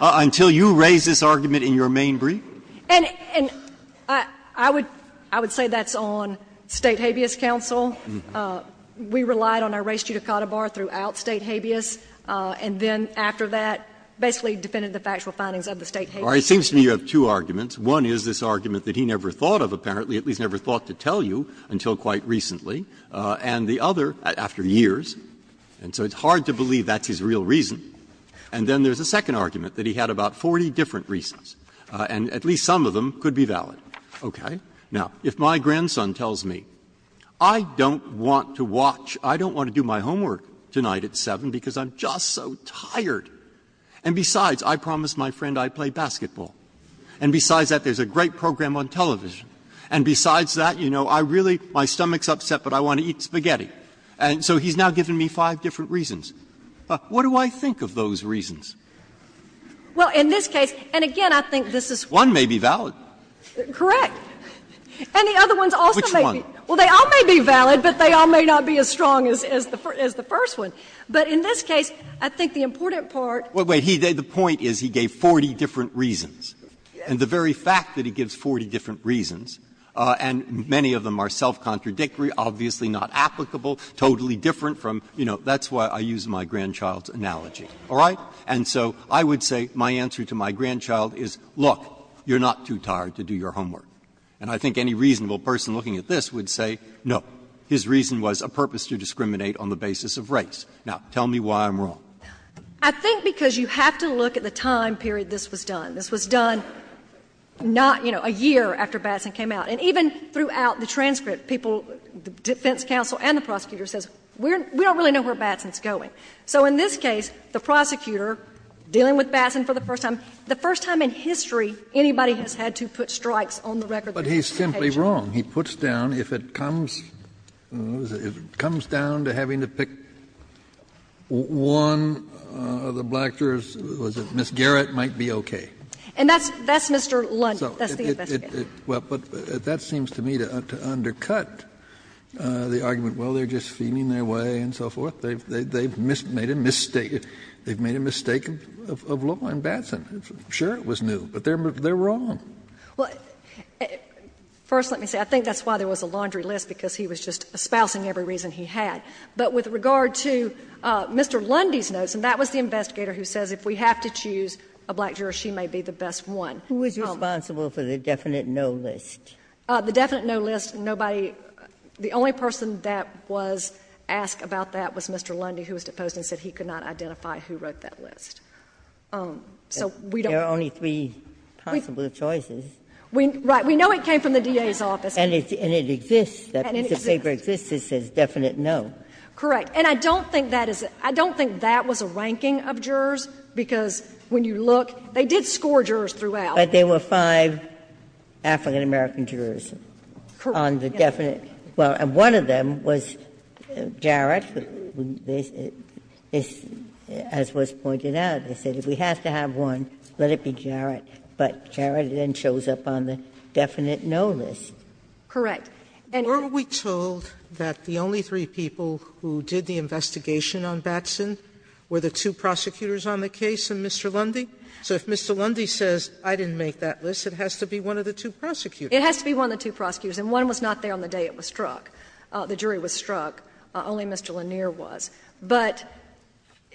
until you raised this argument in your main brief? And — and I would — I would say that's on State Habeas Council. We relied on our race judicata bar throughout State Habeas, and then after that, basically defended the factual findings of the State Habeas. All right. It seems to me you have two arguments. One is this argument that he never thought of, apparently, at least never thought to tell you until quite recently, and the other, after years, and so it's hard to believe that's his real reason. And then there's a second argument that he had about 40 different reasons, and at least some of them could be valid. Okay. Now, if my grandson tells me, I don't want to watch, I don't want to do my homework tonight at 7 because I'm just so tired, and besides, I promised my friend I'd play basketball, and besides that, there's a great program on television, and besides that, you know, I really — my stomach's upset, but I want to eat spaghetti. And so he's now given me five different reasons. What do I think of those reasons? Well, in this case, and again, I think this is one may be valid. Correct. And the other ones also may be valid, but they all may not be as strong as the first one. But in this case, I think the important part. Well, wait. The point is he gave 40 different reasons, and the very fact that he gives 40 different reasons, and many of them are self-contradictory, obviously not applicable, totally different from — you know, that's why I use my grandchild's analogy. All right? And so I would say my answer to my grandchild is, look, you're not too tired to do your homework. And I think any reasonable person looking at this would say, no, his reason was a purpose to discriminate on the basis of race. Now, tell me why I'm wrong. I think because you have to look at the time period this was done. This was done not, you know, a year after Batson came out. And even throughout the transcript, people, the defense counsel and the prosecutor says, we don't really know where Batson's going. So in this case, the prosecutor, dealing with Batson for the first time, the first time in history anybody has had to put strikes on the record of the prosecution. Kennedy, he puts down, if it comes down to having to pick one of the black jurors, was that Ms. Garrett might be okay. And that's Mr. Lundy. That's the investigator. Well, but that seems to me to undercut the argument, well, they're just feeling their way and so forth. They've made a mistake. They've made a mistake of law in Batson. Sure, it was new, but they're wrong. Well, first let me say, I think that's why there was a laundry list, because he was just espousing every reason he had. But with regard to Mr. Lundy's notes, and that was the investigator who says if we have to choose a black juror, she may be the best one. Who was responsible for the definite no list? The definite no list, nobody — the only person that was asked about that was Mr. Lundy, who was deposed and said he could not identify who wrote that list. So we don't know. There are only three possible choices. Right. And it exists. And it exists. If the favor exists, it says definite no. Correct. And I don't think that is — I don't think that was a ranking of jurors, because when you look, they did score jurors throughout. But there were five African-American jurors on the definite — well, and one of them was Jarrett, as was pointed out, they said if we have to have one, let it be Jarrett. But Jarrett then shows up on the definite no list. Correct. And — Sotomayor, weren't we told that the only three people who did the investigation on Batson were the two prosecutors on the case and Mr. Lundy? So if Mr. Lundy says, I didn't make that list, it has to be one of the two prosecutors. It has to be one of the two prosecutors, and one was not there on the day it was struck. The jury was struck. Only Mr. Lanier was. But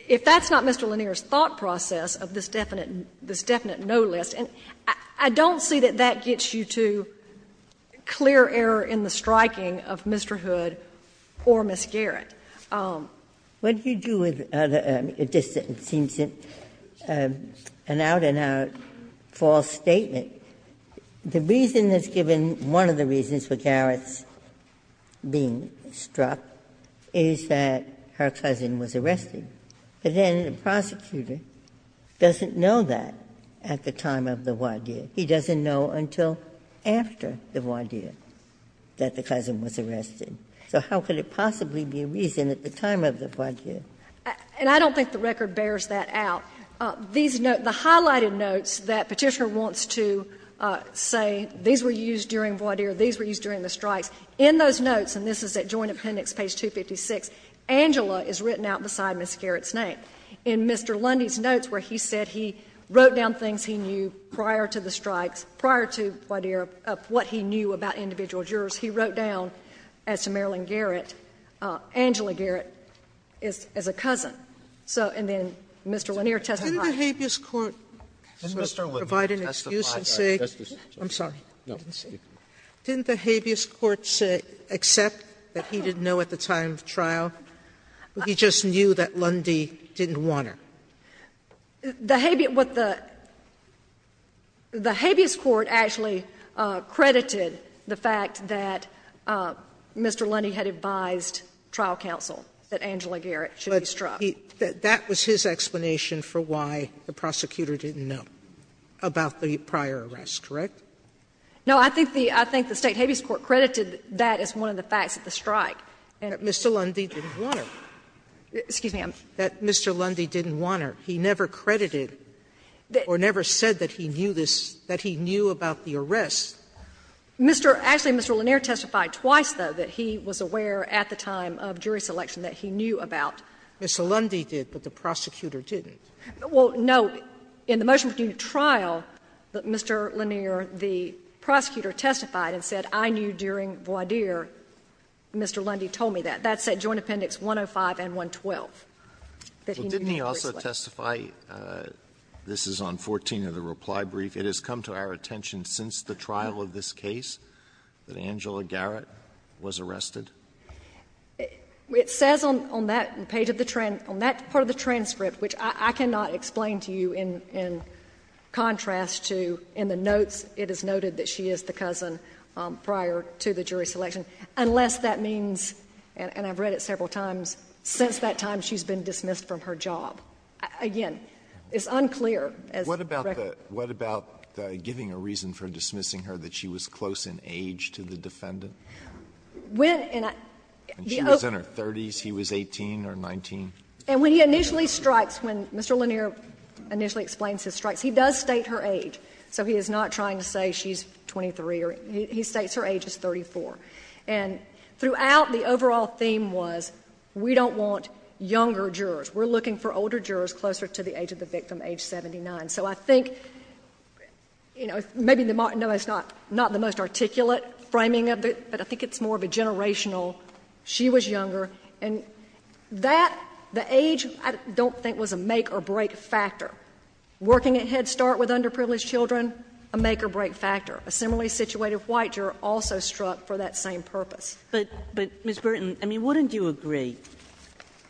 if that's not Mr. Lanier's thought process of this definite no list, and I don't see that that gets you to clear error in the striking of Mr. Hood or Ms. Jarrett. Ginsburg. Ginsburg. What do you do with the other — it just seems an out-and-out false statement. The reason that's given, one of the reasons for Jarrett's being struck is that her cousin was arrested. But then the prosecutor doesn't know that at the time of the what did. He doesn't know until after the what did that the cousin was arrested. So how could it possibly be a reason at the time of the what did? And I don't think the record bears that out. These notes, the highlighted notes that Petitioner wants to say, these were used during what did, these were used during the strikes, in those notes, and this is at Joint Appendix, page 256, Angela is written out beside Ms. Jarrett's name, in Mr. Hood's name, wrote down things he knew prior to the strikes, prior to what he knew about individual jurors, he wrote down as to Marilyn Jarrett, Angela Jarrett as a cousin. So, and then Mr. Lanier testified. Sotomayor, did the habeas court provide an excuse and say, I'm sorry, I didn't see. Didn't the habeas court say, accept that he didn't know at the time of trial, but he just knew that Lundy didn't want her? The habeas, what the, the habeas court actually credited the fact that Mr. Lundy had advised trial counsel that Angela Jarrett should be struck. Sotomayor, that was his explanation for why the prosecutor didn't know about the prior arrest, correct? No, I think the State habeas court credited that as one of the facts of the strike. That Mr. Lundy didn't want her. Excuse me. That Mr. Lundy didn't want her. He never credited or never said that he knew this, that he knew about the arrest. Mr. — actually, Mr. Lanier testified twice, though, that he was aware at the time of jury selection that he knew about. Mr. Lundy did, but the prosecutor didn't. Well, no. In the motion between trial, Mr. Lanier, the prosecutor, testified and said, I knew during voir dire, Mr. Lundy told me that. That's at Joint Appendix 105 and 112. Didn't he also testify, this is on 14 of the reply brief, it has come to our attention since the trial of this case that Angela Jarrett was arrested? It says on that page of the transcript, on that part of the transcript, which I cannot explain to you in contrast to in the notes, it is noted that she is the cousin prior to the jury selection, unless that means, and I've read it several times, since that time she's been dismissed from her job. Again, it's unclear as to the record. Alito What about the giving a reason for dismissing her, that she was close in age to the defendant? And she was in her 30s, he was 18 or 19? And when he initially strikes, when Mr. Lanier initially explains his strikes, he does state her age. So he is not trying to say she's 23. He states her age as 34. And throughout, the overall theme was, we don't want younger jurors. We're looking for older jurors closer to the age of the victim, age 79. So I think, you know, maybe the, no, it's not the most articulate framing of it, but I think it's more of a generational, she was younger. And that, the age, I don't think was a make or break factor. Working at Head Start with underprivileged children, a make or break factor. A similarly situated white juror also struck for that same purpose. Kagan But, Ms. Burton, I mean, wouldn't you agree,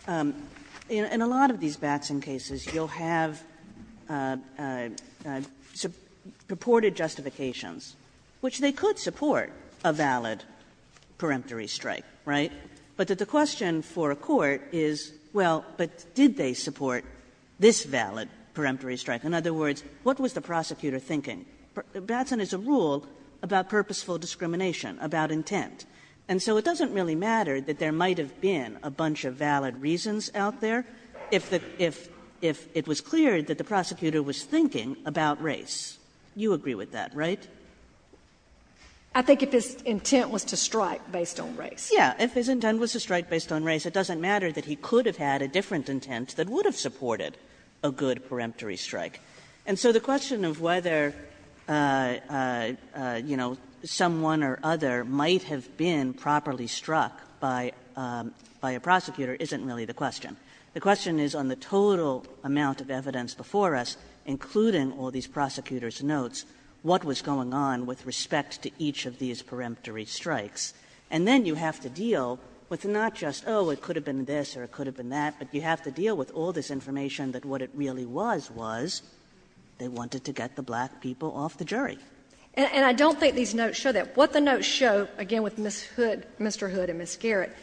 in a lot of these Batson cases, you'll have purported justifications, which they could support a valid peremptory strike, right? But that the question for a court is, well, but did they support this valid peremptory strike? In other words, what was the prosecutor thinking? Batson is a rule about purposeful discrimination, about intent. And so it doesn't really matter that there might have been a bunch of valid reasons out there if the, if it was clear that the prosecutor was thinking about race. You agree with that, right? Burton I think if his intent was to strike based on race. Kagan Yes. If his intent was to strike based on race, it doesn't matter that he could have had a different intent that would have supported a good peremptory strike. And so the question of whether, you know, someone or other might have been properly struck by a prosecutor isn't really the question. The question is on the total amount of evidence before us, including all these prosecutors' notes, what was going on with respect to each of these peremptory strikes. And then you have to deal with not just, oh, it could have been this or it could have been that, but you have to deal with all this information that what it really was, was they wanted to get the black people off the jury. And I don't think these notes show that. What the notes show, again, with Ms. Hood, Mr. Hood and Ms. Garrett,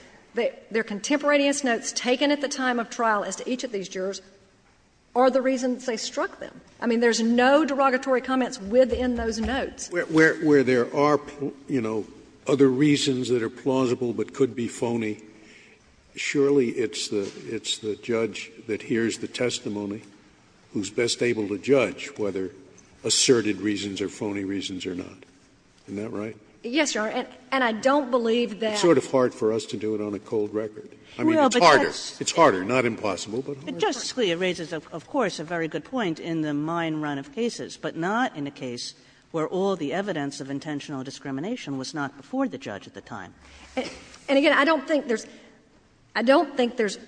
their contemporaneous notes taken at the time of trial as to each of these jurors are the reasons they struck them. I mean, there's no derogatory comments within those notes. Scalia Where there are, you know, other reasons that are plausible but could be phony, surely it's the judge that hears the testimony who's best able to judge whether asserted reasons are phony reasons or not. Isn't that right? Yes, Your Honor. And I don't believe that It's sort of hard for us to do it on a cold record. I mean, it's harder. It's harder, not impossible, but harder. Justice Scalia raises, of course, a very good point in the mine run of cases, but not in a case where all the evidence of intentional discrimination was not before the judge at the time. And, again, I don't think there's – I don't think there's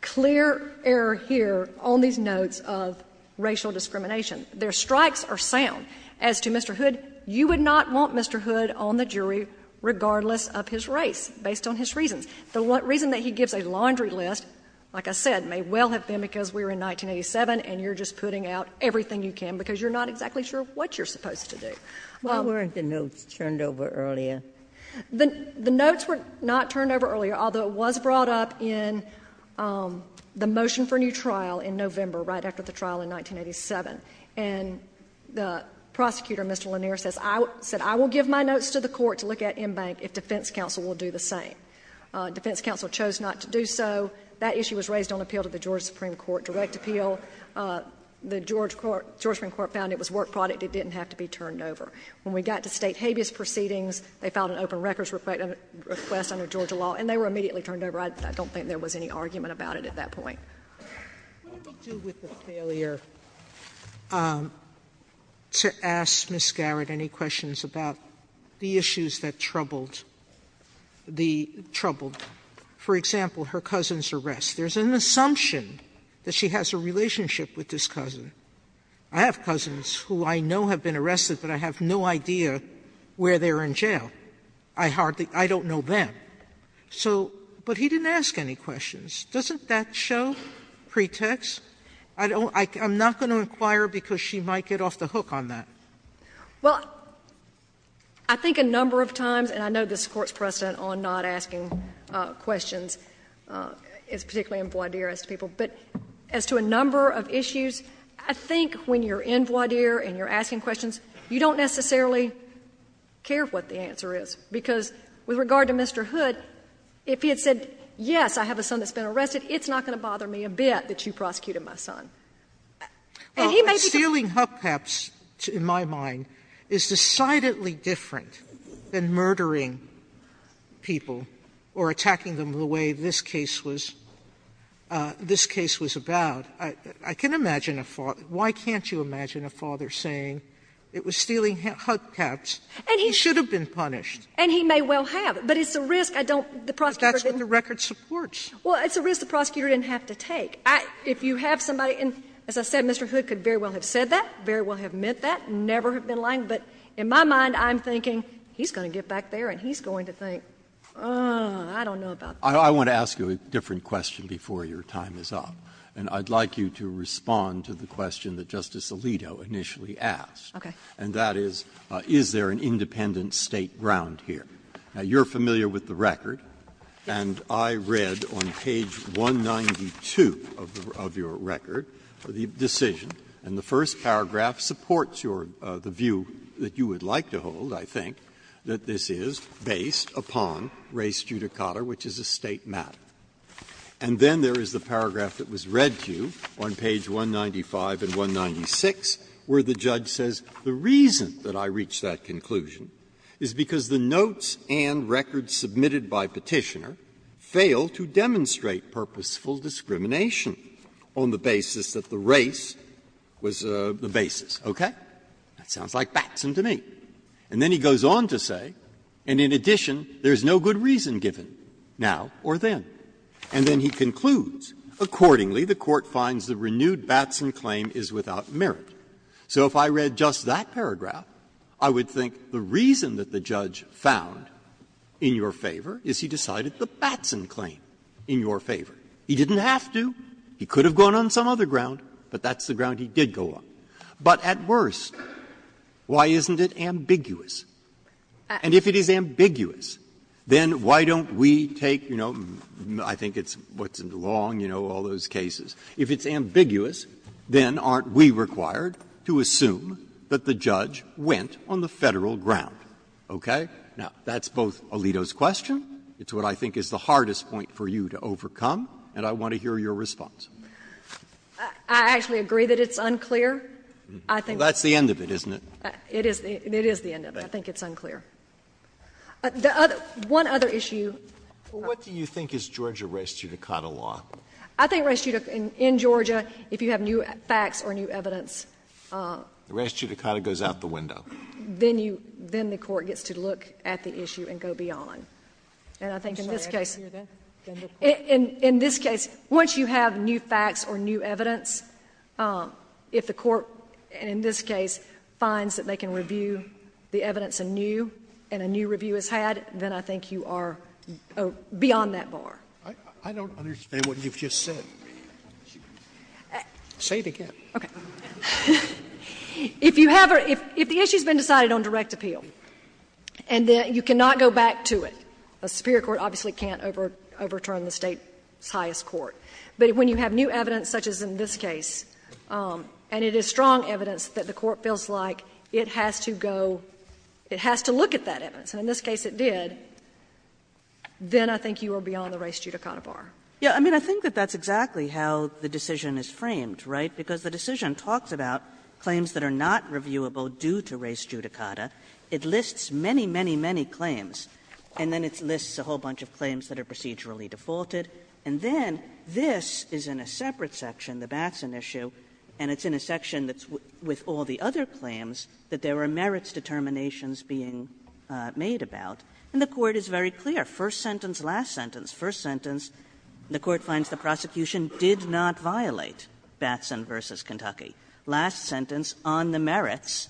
clear error here on these notes of racial discrimination. Their strikes are sound. As to Mr. Hood, you would not want Mr. Hood on the jury regardless of his race, based on his reasons. The reason that he gives a laundry list, like I said, may well have been because we were in 1987 and you're just putting out everything you can because you're not exactly sure what you're supposed to do. Why weren't the notes turned over earlier? The notes were not turned over earlier, although it was brought up in the motion for new trial in November, right after the trial in 1987. And the prosecutor, Mr. Lanier, says, I will give my notes to the court to look at Enbank if defense counsel will do the same. Defense counsel chose not to do so. That issue was raised on appeal to the Georgia Supreme Court, direct appeal. The Georgia Supreme Court found it was work product. It didn't have to be turned over. When we got to State habeas proceedings, they filed an open records request under Georgia law, and they were immediately turned over. I don't think there was any argument about it at that point. Sotomayor, what did you do with the failure to ask Ms. Garrett any questions about the issues that troubled the troubled? For example, her cousin's arrest. There's an assumption that she has a relationship with this cousin. I have cousins who I know have been arrested, but I have no idea where they are in jail. I hardly – I don't know them. So – but he didn't ask any questions. Doesn't that show pretext? I don't – I'm not going to inquire because she might get off the hook on that. Well, I think a number of times, and I know this Court's precedent on not asking questions, particularly in voir dire as to people, but as to a number of issues, I think when you're in voir dire and you're asking questions, you don't necessarily care what the answer is, because with regard to Mr. Hood, if he had said, yes, I have a son that's been arrested, it's not going to bother me a bit that you prosecuted my son. And he may be going to do that. Sotomayor, stealing hookups, in my mind, is decidedly different than murdering people or attacking them the way this case was – this case was about. I can imagine a father – why can't you imagine a father saying, it was stealing hookups, he should have been punished? And he may well have, but it's a risk I don't – the prosecutor didn't. But that's what the record supports. Well, it's a risk the prosecutor didn't have to take. If you have somebody in – as I said, Mr. Hood could very well have said that, very well have meant that, never have been lying, but in my mind, I'm thinking he's going to get back there and he's going to think, oh, I don't know about that. Breyer. I want to ask you a different question before your time is up, and I'd like you to respond to the question that Justice Alito initially asked, and that is, is there an independent State ground here? Now, you're familiar with the record, and I read on page 192 of your record the decision, and the first paragraph supports your – the view that you would like to hold, I think, that this is based upon res judicata, which is a State matter. And then there is the paragraph that was read to you on page 195 and 196, where the judge says, the reason that I reached that conclusion is because the notes and records submitted by Petitioner fail to demonstrate purposeful discrimination on the basis that the race was the basis. Okay? That sounds like Batson to me. And then he goes on to say, and in addition, there is no good reason given, now or then. And then he concludes, accordingly, the Court finds the renewed Batson claim is without merit. So if I read just that paragraph, I would think the reason that the judge found in your favor is he decided the Batson claim in your favor. He didn't have to. He could have gone on some other ground, but that's the ground he did go on. But at worst, why isn't it ambiguous? And if it is ambiguous, then why don't we take, you know, I think it's what's in the long, you know, all those cases. If it's ambiguous, then aren't we required to assume that the judge went on the Federal ground? Okay? Now, that's both Alito's question. It's what I think is the hardest point for you to overcome, and I want to hear your response. I actually agree that it's unclear. I think that's the end of it, isn't it? It is the end of it. I think it's unclear. The other one other issue. What do you think is Georgia res judicata law? I think res judicata, in Georgia, if you have new facts or new evidence. The res judicata goes out the window. Then you, then the Court gets to look at the issue and go beyond. If you have new facts or new evidence, if the Court, in this case, finds that they can review the evidence anew, and anew review is had, then I think you are beyond that bar. I don't understand what you've just said. Say it again. Okay. If you have a — if the issue has been decided on direct appeal, and then you cannot go back to it, a superior court obviously can't overturn the State's highest court. But when you have new evidence, such as in this case, and it is strong evidence that the Court feels like it has to go, it has to look at that evidence, and in this case it did, then I think you are beyond the res judicata bar. Yeah. I mean, I think that that's exactly how the decision is framed, right? Because the decision talks about claims that are not reviewable due to res judicata. It lists many, many, many claims, and then it lists a whole bunch of claims that are procedurally defaulted. And then this is in a separate section, the Batson issue, and it's in a section that's with all the other claims that there were merits determinations being made about. And the Court is very clear. First sentence, last sentence. First sentence, the Court finds the prosecution did not violate Batson v. Kentucky. Last sentence, on the merits,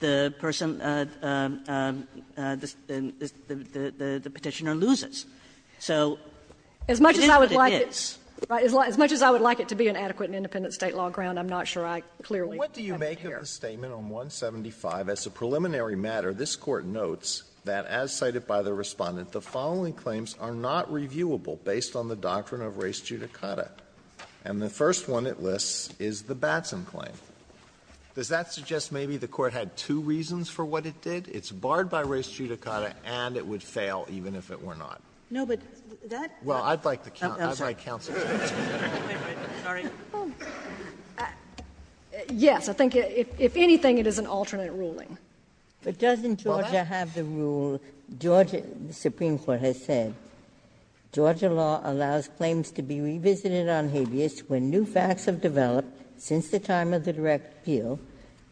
the person — the Petitioner loses. So this is what it is. As much as I would like it to be an adequate and independent State law ground, I'm not sure I clearly have it here. Alito, what do you make of the statement on 175, as a preliminary matter, this Court notes that, as cited by the Respondent, the following claims are not reviewable based on the doctrine of res judicata. And the first one it lists is the Batson claim. Does that suggest maybe the Court had two reasons for what it did? It's barred by res judicata and it would fail even if it were not. No, but that — Well, I'd like the — I'd like counsel to answer that. Wait, wait, sorry. Yes, I think, if anything, it is an alternate ruling. But doesn't Georgia have the rule, Georgia — the Supreme Court has said, Georgia law allows claims to be revisited on habeas when new facts have developed since the time of the direct appeal,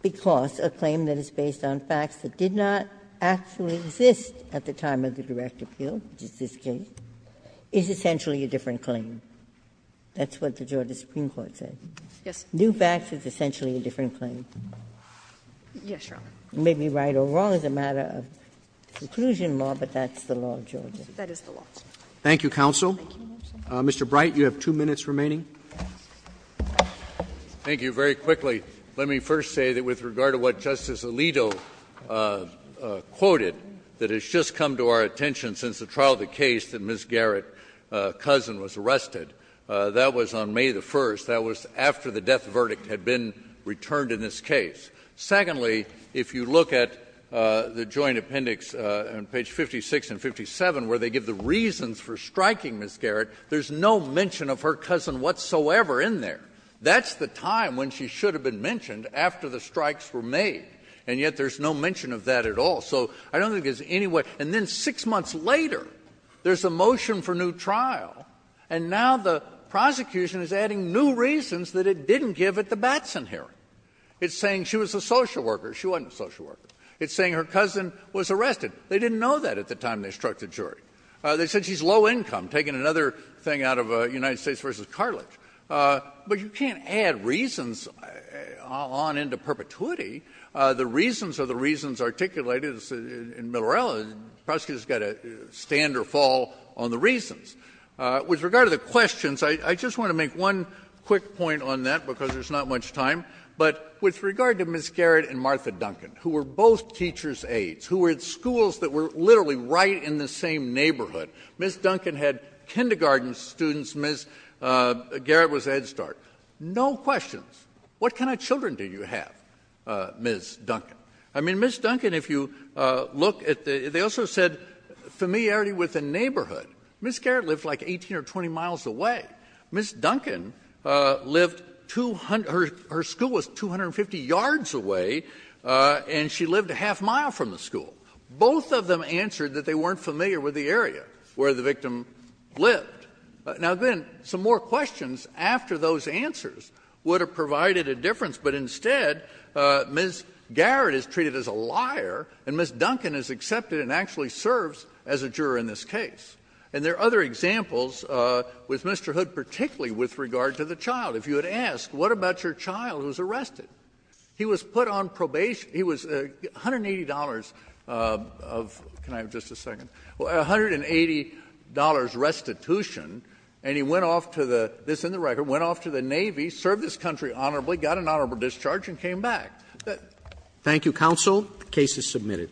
because a claim that is based on facts that did not actually exist at the time of the direct appeal, which is this case, is essentially a different claim. That's what the Georgia Supreme Court said. Yes. New facts is essentially a different claim. Yes, Your Honor. You may be right or wrong as a matter of conclusion, but that's the law of Georgia. That is the law. Thank you, counsel. Mr. Bright, you have two minutes remaining. Thank you. Very quickly, let me first say that with regard to what Justice Alito quoted, that has just come to our attention since the trial of the case that Ms. Garrett's cousin was arrested, that was on May the 1st. That was after the death verdict had been returned in this case. Secondly, if you look at the joint appendix on page 56 and 57, where they give the reasons for striking Ms. Garrett, there's no mention of her cousin whatsoever in there. That's the time when she should have been mentioned after the strikes were made, and yet there's no mention of that at all. So I don't think there's any way — and then six months later, there's a motion for new trial, and now the prosecution is adding new reasons that it didn't give at the Batson hearing. It's saying she was a social worker. She wasn't a social worker. It's saying her cousin was arrested. They didn't know that at the time they struck the jury. They said she's low income, taking another thing out of United States v. Carlick. But you can't add reasons on into perpetuity. The reasons are the reasons articulated in Miller-Ellis. The prosecutor's got to stand or fall on the reasons. With regard to the questions, I just want to make one quick point on that, because there's not much time. But with regard to Ms. Garrett and Martha Duncan, who were both teachers' aides, who were at schools that were literally right in the same neighborhood, Ms. Duncan had kindergarten students. Ms. Garrett was Ed Start. No questions. What kind of children do you have, Ms. Duncan? I mean, Ms. Duncan, if you look at the — they also said familiarity with the neighborhood. Ms. Garrett lived like 18 or 20 miles away. Ms. Duncan lived — her school was 250 yards away, and she lived a half-mile from the school. Both of them answered that they weren't familiar with the area where the victim lived. Now, then, some more questions after those answers would have provided a difference, but instead, Ms. Garrett is treated as a liar, and Ms. Duncan is accepted and actually serves as a juror in this case. And there are other examples with Mr. Hood, particularly with regard to the child. If you had asked, what about your child who was arrested? He was put on probation — he was $180 of — can I have just a second? $180 restitution, and he went off to the — this is in the record — went off to the Navy, served this country honorably, got an honorable discharge, and came back. Thank you, counsel. The case is submitted.